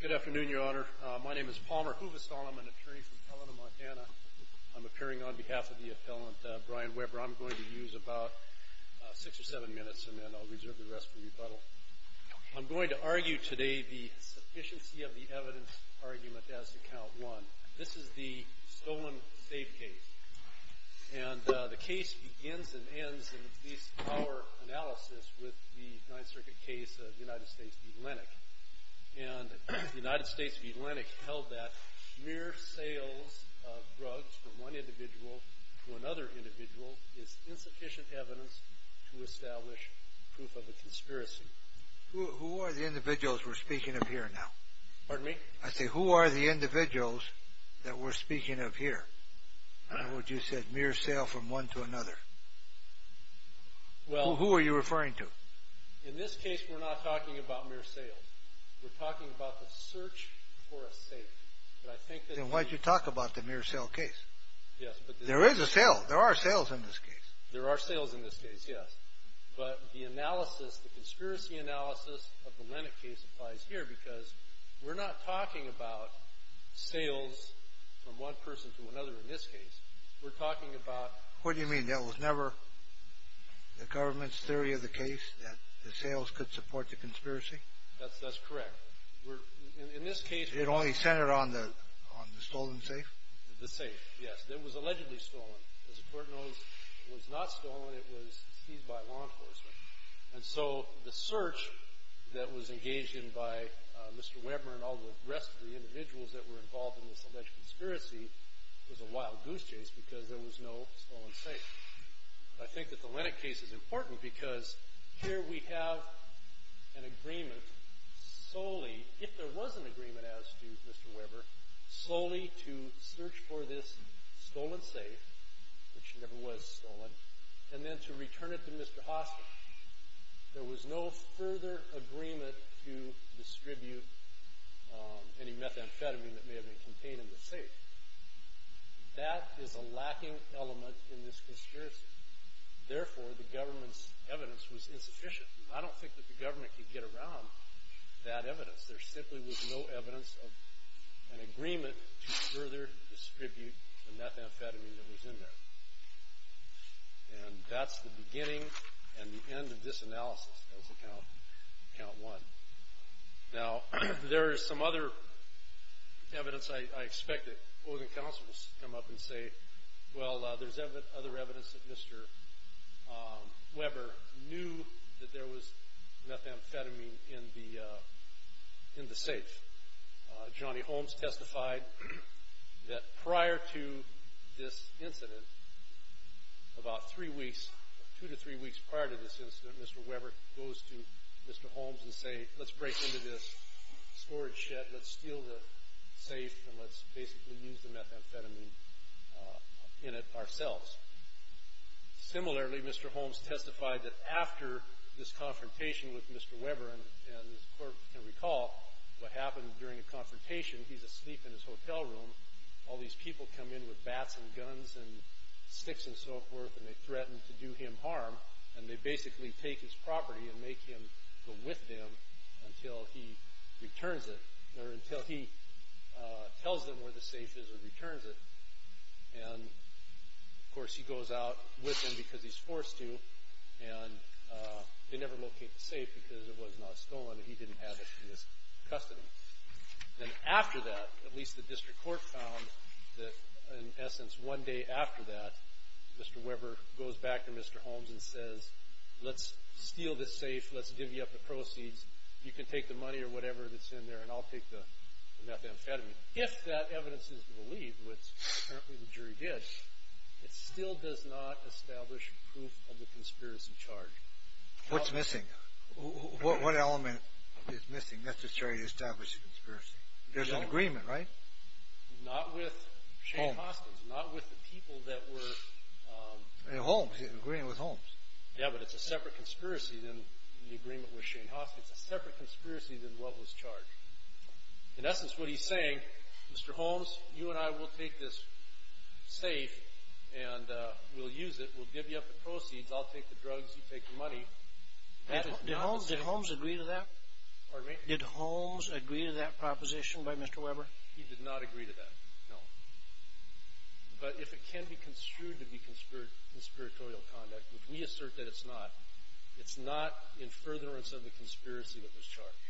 Good afternoon, Your Honor. My name is Palmer Hoovestall. I'm an attorney from Helena, Montana. I'm appearing on behalf of the appellant Brian Weber. I'm going to use about six or seven minutes, and then I'll reserve the rest for rebuttal. I'm going to argue today the sufficiency of the evidence argument as to Count 1. This is the stolen safe case, and the case begins and ends in at least our analysis with the Ninth Circuit case of the United States v. Lennox. And the United States v. Lennox held that mere sales of drugs from one individual to another individual is insufficient evidence to establish proof of a conspiracy. Who are the individuals we're speaking of here now? Pardon me? I say who are the individuals that we're speaking of here? I heard you said mere sale from one to another. Who are you referring to? In this case, we're not talking about mere sales. We're talking about the search for a safe. Then why'd you talk about the mere sale case? There is a sale. There are sales in this case. There are sales in this case, yes. But the analysis, the conspiracy analysis of the Lennox case applies here, because we're not talking about sales from one person to another in this case. We're talking about... What do you mean? That was never the government's theory of the case, that the sales could support the conspiracy? That's correct. In this case... It only centered on the stolen safe? The safe, yes. It was allegedly stolen. As the Court knows, it was not stolen. It was seized by law enforcement. And so the search that was engaged in by Mr. Weber and all the rest of the individuals that were involved in this alleged conspiracy was a wild goose chase because there was no stolen safe. I think that the Lennox case is important because here we have an agreement solely, if there was an agreement as to Mr. Weber, solely to search for this stolen safe, which never was stolen, and then to return it to Mr. Hoskin. There was no further agreement to distribute any methamphetamine that may have been contained in the safe. That is a lacking element in this conspiracy. Therefore, the government's evidence was insufficient. I don't think that the government could get around that evidence. There simply was no evidence of an agreement to further distribute the methamphetamine that was in there. And that's the beginning and the end of this analysis as of Count 1. Now, there is some other evidence, I expect, that both the counsels come up and say, well, there's other evidence that Mr. Weber knew that there was methamphetamine in the safe. Johnny Holmes testified that prior to this incident, about three weeks, two to three weeks prior to this incident, Mr. Weber goes to Mr. Holmes and say, let's break into this storage shed, let's steal the safe, and let's basically use the methamphetamine in it ourselves. Similarly, Mr. Holmes testified that after this confrontation with Mr. Weber, and the clerk can recall what happened during the confrontation, he's asleep in his hotel room, all these people come in with bats and guns and sticks and so forth, and they threaten to do him harm, and they basically take his property and make him go with them until he returns it, or until he tells them where the safe is and returns it. And, of course, he goes out with them because he's forced to, and they never locate the safe because it was not stolen and he didn't have it in his custody. Then after that, at least the district court found that, in essence, one day after that, Mr. Weber goes back to Mr. Holmes and says, let's steal this safe, let's give you up the proceeds, you can take the money or whatever that's in there, and I'll take the methamphetamine. If that evidence is believed, which apparently the jury did, it still does not establish proof of the conspiracy charge. What's missing? What element is missing? That's to try to establish a conspiracy. There's an agreement, right? Not with Shane Hoskins, not with the people that were... Holmes, the agreement with Holmes. Yeah, but it's a separate conspiracy than the agreement with Shane Hoskins. It's a separate conspiracy than what was charged. In essence, what he's saying, Mr. Holmes, you and I will take this safe, and we'll use it, we'll give you up the proceeds, I'll take the drugs, you take the money. Did Holmes agree to that? Pardon me? Did Holmes agree to that proposition by Mr. Weber? He did not agree to that, no. But if it can be construed to be conspiratorial conduct, which we assert that it's not, it's not in furtherance of the conspiracy that was charged.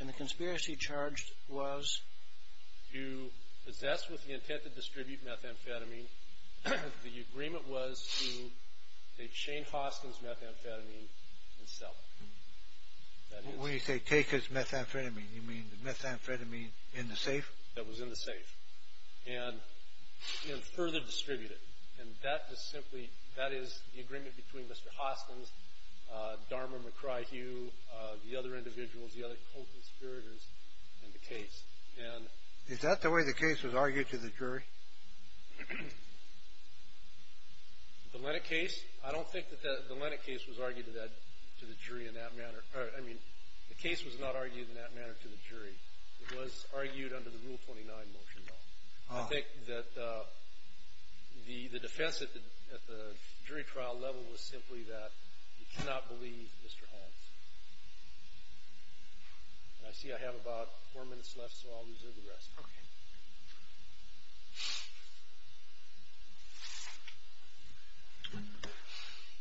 And the conspiracy charged was? To possess with the intent to distribute methamphetamine, the agreement was to take Shane Hoskins' methamphetamine and sell it. When you say take his methamphetamine, you mean the methamphetamine in the safe? That was in the safe, and further distribute it. And that is simply, that is the agreement between Mr. Hoskins, Darmer, McCryhugh, the other individuals, the other conspirators in the case. Is that the way the case was argued to the jury? The Lennock case? I don't think that the Lennock case was argued to the jury in that manner. I mean, the case was not argued in that manner to the jury. It was argued under the Rule 29 motion. I think that the defense at the jury trial level was simply that you cannot believe Mr. Hoskins. I see I have about four minutes left, so I'll reserve the rest. Okay.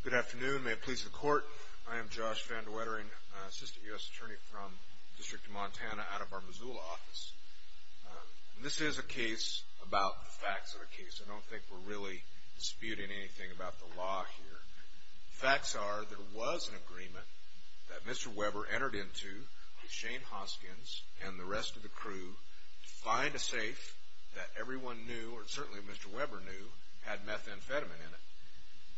Good afternoon. May it please the Court. I am Josh Van de Wetering, Assistant U.S. Attorney from the District of Montana out of our Missoula office. This is a case about the facts of the case. I don't think we're really disputing anything about the law here. The facts are there was an agreement that Mr. Weber entered into with Shane Hoskins and the rest of the crew to find a safe that everyone knew, or certainly Mr. Weber knew, had methamphetamine in it.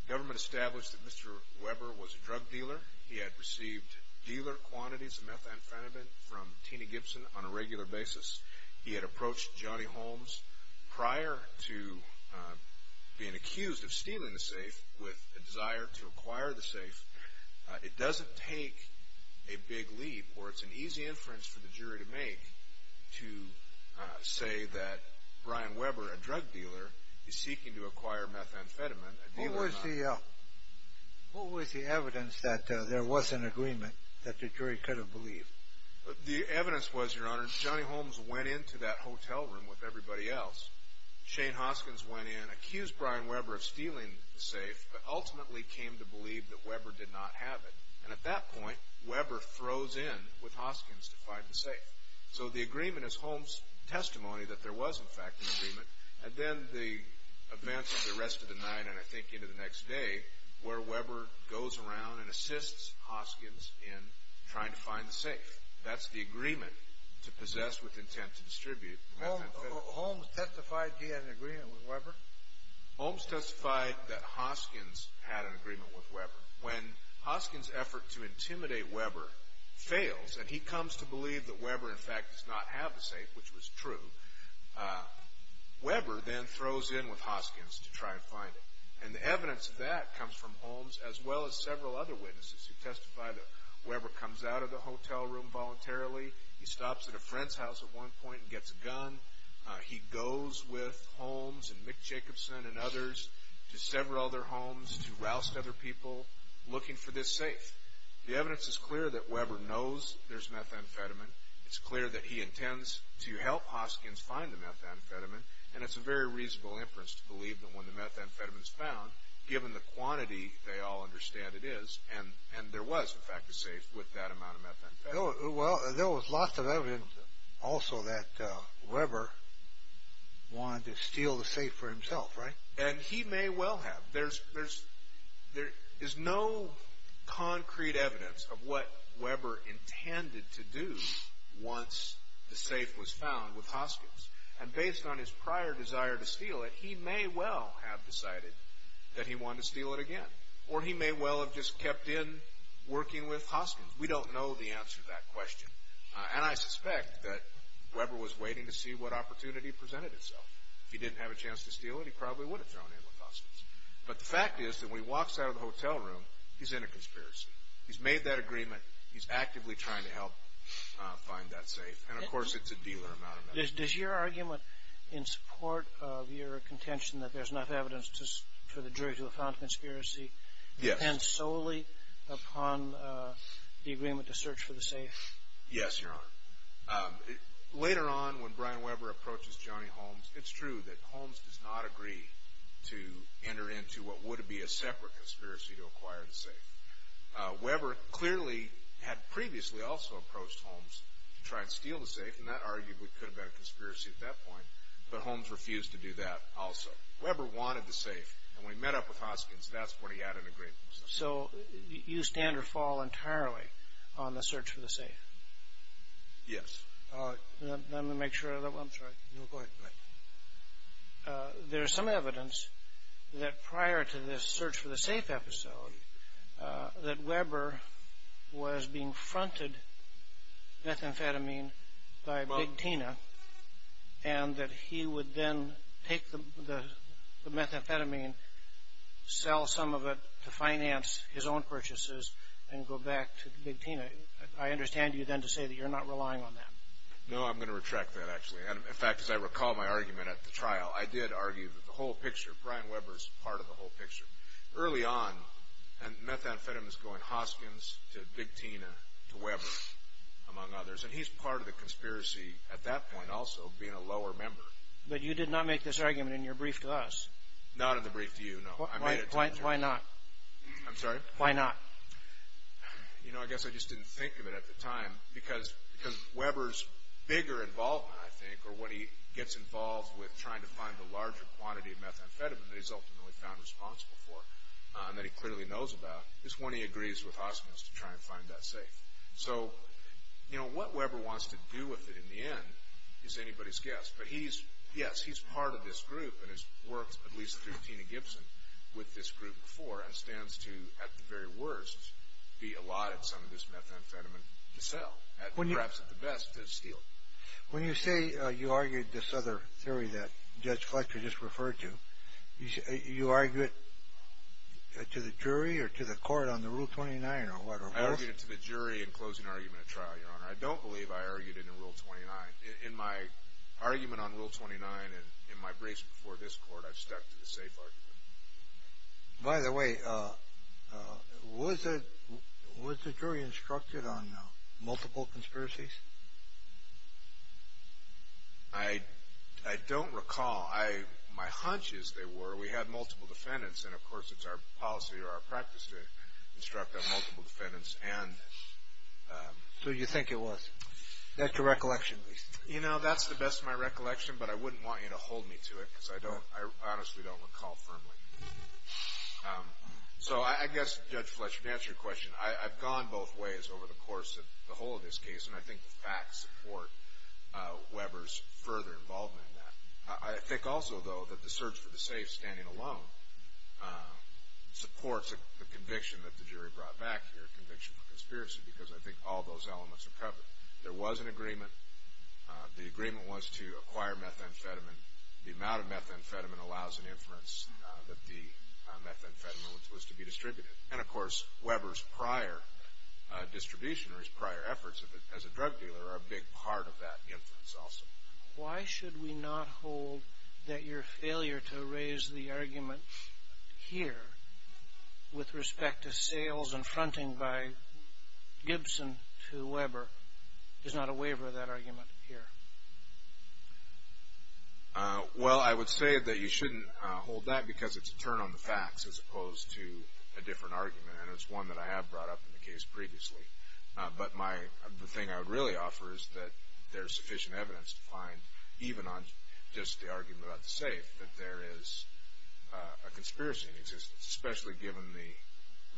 The government established that Mr. Weber was a drug dealer. He had received dealer quantities of methamphetamine from Tina Gibson on a regular basis. He had approached Johnny Holmes prior to being accused of stealing the safe with a desire to acquire the safe. It doesn't take a big leap, or it's an easy inference for the jury to make, to say that Brian Weber, a drug dealer, is seeking to acquire methamphetamine. What was the evidence that there was an agreement that the jury could have believed? The evidence was, Your Honor, Johnny Holmes went into that hotel room with everybody else. Shane Hoskins went in, accused Brian Weber of stealing the safe, but ultimately came to believe that Weber did not have it. And at that point, Weber throws in with Hoskins to find the safe. So the agreement is Holmes' testimony that there was, in fact, an agreement. And then the events of the rest of the night, and I think into the next day, where Weber goes around and assists Hoskins in trying to find the safe. That's the agreement to possess with intent to distribute methamphetamine. Holmes testified he had an agreement with Weber? Holmes testified that Hoskins had an agreement with Weber. When Hoskins' effort to intimidate Weber fails, and he comes to believe that Weber, in fact, does not have the safe, which was true, Weber then throws in with Hoskins to try and find it. And the evidence of that comes from Holmes, as well as several other witnesses who testify that Weber comes out of the hotel room voluntarily. He stops at a friend's house at one point and gets a gun. He goes with Holmes and Mick Jacobson and others to several other homes to roust other people looking for this safe. The evidence is clear that Weber knows there's methamphetamine. It's clear that he intends to help Hoskins find the methamphetamine. And it's a very reasonable inference to believe that when the methamphetamine is found, given the quantity, they all understand it is, and there was, in fact, a safe with that amount of methamphetamine. Well, there was lots of evidence also that Weber wanted to steal the safe for himself, right? And he may well have. There is no concrete evidence of what Weber intended to do once the safe was found with Hoskins. And based on his prior desire to steal it, he may well have decided that he wanted to steal it again. Or he may well have just kept in working with Hoskins. We don't know the answer to that question. And I suspect that Weber was waiting to see what opportunity presented itself. If he didn't have a chance to steal it, he probably would have thrown in with Hoskins. But the fact is that when he walks out of the hotel room, he's in a conspiracy. He's made that agreement. He's actively trying to help find that safe. And, of course, it's a dealer amount of methamphetamine. Does your argument in support of your contention that there's enough evidence for the jury to have found a conspiracy depend solely upon the agreement to search for the safe? Yes, Your Honor. Later on, when Brian Weber approaches Johnny Holmes, it's true that Holmes does not agree to enter into what would be a separate conspiracy to acquire the safe. Weber clearly had previously also approached Holmes to try and steal the safe, and that arguably could have been a conspiracy at that point. But Holmes refused to do that also. Weber wanted the safe, and when he met up with Hoskins, that's when he had an agreement. So you stand or fall entirely on the search for the safe? Yes. Let me make sure of that one. I'm sorry. No, go ahead. There's some evidence that prior to this search for the safe episode, that Weber was being fronted methamphetamine by Big Tina, and that he would then take the methamphetamine, sell some of it to finance his own purchases, and go back to Big Tina. I understand you then to say that you're not relying on that. No, I'm going to retract that, actually. In fact, as I recall my argument at the trial, I did argue that the whole picture, Brian Weber's part of the whole picture. Early on, and methamphetamine's going Hoskins to Big Tina to Weber, among others, and he's part of the conspiracy at that point also, being a lower member. But you did not make this argument in your brief to us. Not in the brief to you, no. I made it to you. Why not? I'm sorry? Why not? You know, I guess I just didn't think of it at the time, because Weber's bigger involvement, I think, or when he gets involved with trying to find the larger quantity of methamphetamine that he's ultimately found responsible for, and that he clearly knows about, is when he agrees with Hoskins to try and find that safe. So, you know, what Weber wants to do with it in the end is anybody's guess. But he's, yes, he's part of this group, and has worked at least through Tina Gibson with this group before, and stands to, at the very worst, be allotted some of this methamphetamine to sell, and perhaps at the best, to steal it. When you say you argued this other theory that Judge Fletcher just referred to, you argue it to the jury or to the court on the Rule 29 or whatever? I argued it to the jury in closing argument at trial, Your Honor. I don't believe I argued it in Rule 29. In my argument on Rule 29 and in my briefs before this Court, I've stuck to the safe argument. By the way, was the jury instructed on multiple conspiracies? I don't recall. My hunch is they were. We had multiple defendants, and of course it's our policy or our practice to instruct on multiple defendants. So you think it was. That's your recollection, at least. You know, that's the best of my recollection, but I wouldn't want you to hold me to it, because I honestly don't recall firmly. So I guess, Judge Fletcher, to answer your question, I've gone both ways over the course of the whole of this case, and I think the facts support Weber's further involvement in that. I think also, though, that the search for the safe standing alone supports the conviction that the jury brought back here, conviction for conspiracy, because I think all those elements are covered. There was an agreement. The agreement was to acquire methamphetamine. The amount of methamphetamine allows an inference that the methamphetamine was to be distributed. And, of course, Weber's prior distribution or his prior efforts as a drug dealer are a big part of that inference also. Why should we not hold that your failure to raise the argument here with respect to sales and fronting by Gibson to Weber is not a waiver of that argument here? Well, I would say that you shouldn't hold that because it's a turn on the facts as opposed to a different argument, and it's one that I have brought up in the case previously. But the thing I would really offer is that there is sufficient evidence to find, even on just the argument about the safe, that there is a conspiracy in existence, especially given the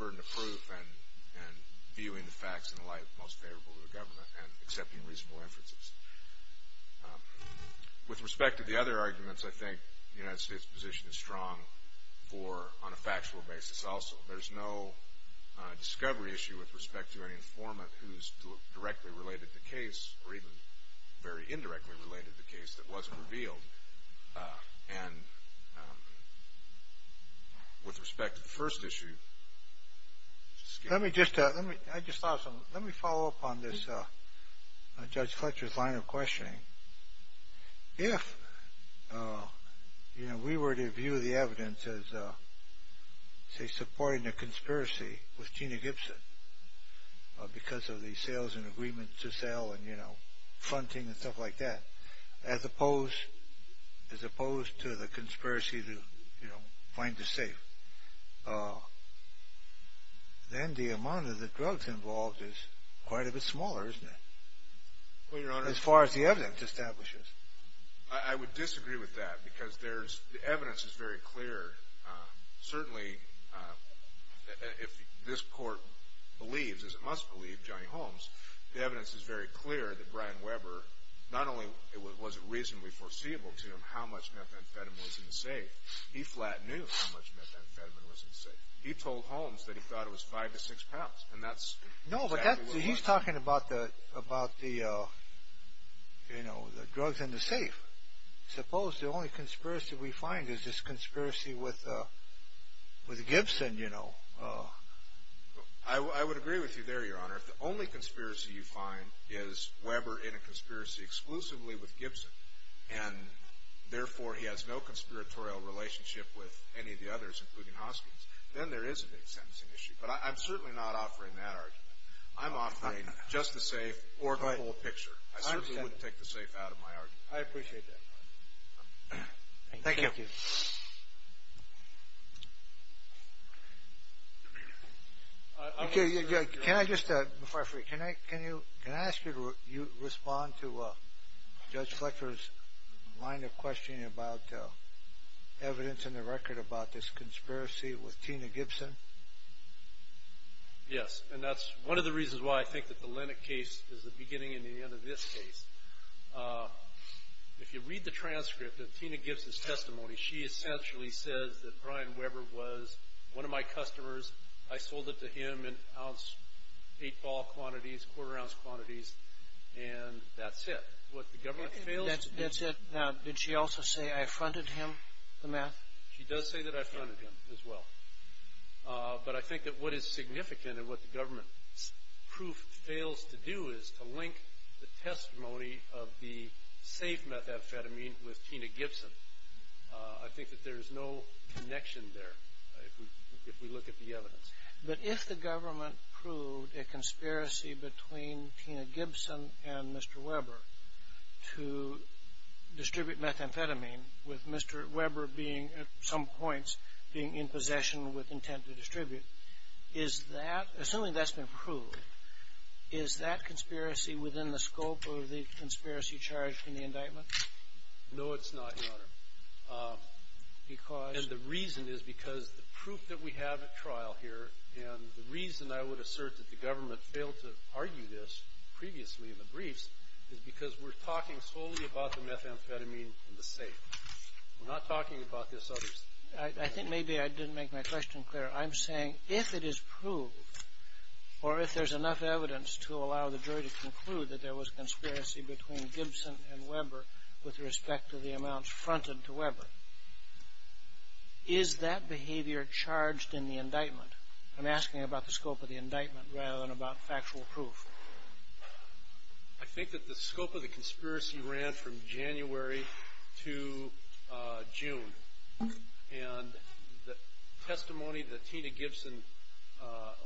burden of proof and viewing the facts and the like most favorable to the government and accepting reasonable inferences. With respect to the other arguments, I think the United States' position is strong on a factual basis also. There's no discovery issue with respect to any informant who's directly related to the case or even very indirectly related to the case that wasn't revealed. And with respect to the first issue, excuse me. Let me just follow up on this Judge Fletcher's line of questioning. If we were to view the evidence as supporting a conspiracy with Gina Gibson because of the sales and agreements to sell and fronting and stuff like that, as opposed to the conspiracy to find the safe, then the amount of the drugs involved is quite a bit smaller, isn't it? Well, Your Honor. As far as the evidence establishes. I would disagree with that because the evidence is very clear. Certainly, if this Court believes, as it must believe, Johnny Holmes, the evidence is very clear that Brian Weber, not only was it reasonably foreseeable to him how much methamphetamine was in the safe, he flat knew how much methamphetamine was in the safe. He told Holmes that he thought it was five to six pounds. No, but he's talking about the drugs in the safe. Suppose the only conspiracy we find is this conspiracy with Gibson. I would agree with you there, Your Honor. If the only conspiracy you find is Weber in a conspiracy exclusively with Gibson and therefore he has no conspiratorial relationship with any of the others, including Hoskins, then there is a big sentencing issue. But I'm certainly not offering that argument. I'm offering just the safe or the full picture. I certainly wouldn't take the safe out of my argument. I appreciate that. Thank you. Thank you. Can I just, before I forget, can I ask you to respond to Judge Fletcher's line of questioning about evidence in the record about this conspiracy with Tina Gibson? Yes, and that's one of the reasons why I think that the Lennock case is the beginning and the end of this case. If you read the transcript of Tina Gibson's testimony, she essentially says that Brian Weber was one of my customers. I sold it to him in ounce, eight ball quantities, quarter-ounce quantities, and that's it. What, the government fails? That's it. Now, did she also say, I fronted him the meth? She does say that I fronted him as well. But I think that what is significant and what the government's proof fails to do is to link the testimony of the safe methamphetamine with Tina Gibson. I think that there is no connection there, if we look at the evidence. But if the government proved a conspiracy between Tina Gibson and Mr. Weber to distribute methamphetamine, with Mr. Weber being, at some points, being in possession with intent to distribute, is that, assuming that's been proved, is that conspiracy within the scope of the conspiracy charged in the indictment? No, it's not, Your Honor. And the reason is because the proof that we have at trial here, and the reason I would assert that the government failed to argue this previously in the briefs, is because we're talking solely about the methamphetamine and the safe. We're not talking about this other stuff. I think maybe I didn't make my question clear. I'm saying if it is proved, or if there's enough evidence to allow the jury to conclude that there was a conspiracy between Gibson and Weber with respect to the amounts fronted to Weber, is that behavior charged in the indictment? I'm asking about the scope of the indictment rather than about factual proof. I think that the scope of the conspiracy ran from January to June. And the testimony that Tina Gibson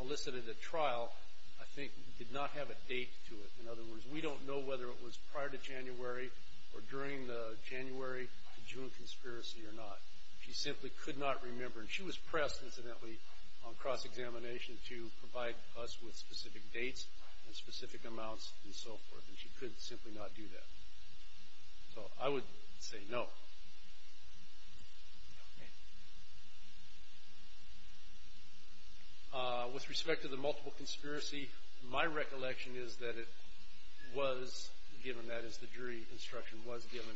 elicited at trial, I think, did not have a date to it. In other words, we don't know whether it was prior to January or during the January to June conspiracy or not. She simply could not remember. And she was pressed, incidentally, on cross-examination to provide us with specific dates and specific amounts and so forth, and she could simply not do that. So I would say no. With respect to the multiple conspiracy, my recollection is that it was given, that is the jury instruction was given.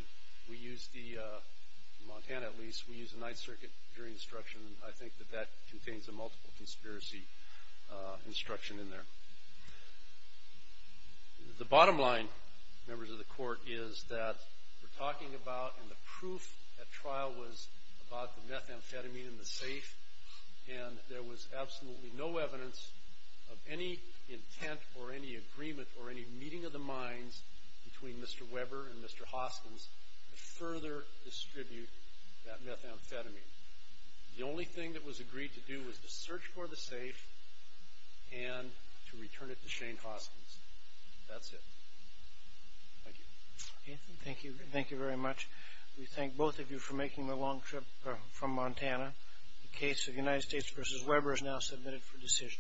We used the, in Montana at least, we used the Ninth Circuit jury instruction, and I think that that contains the multiple conspiracy instruction in there. The bottom line, members of the Court, is that we're talking about, and the proof at trial was about the methamphetamine in the safe, and there was absolutely no evidence of any intent or any agreement or any meeting of the minds between Mr. Weber and Mr. Hoskins to further distribute that methamphetamine. The only thing that was agreed to do was to search for the safe and to return it to Shane Hoskins. That's it. Thank you. Thank you. Thank you very much. We thank both of you for making the long trip from Montana. The case of United States v. Weber is now submitted for decision.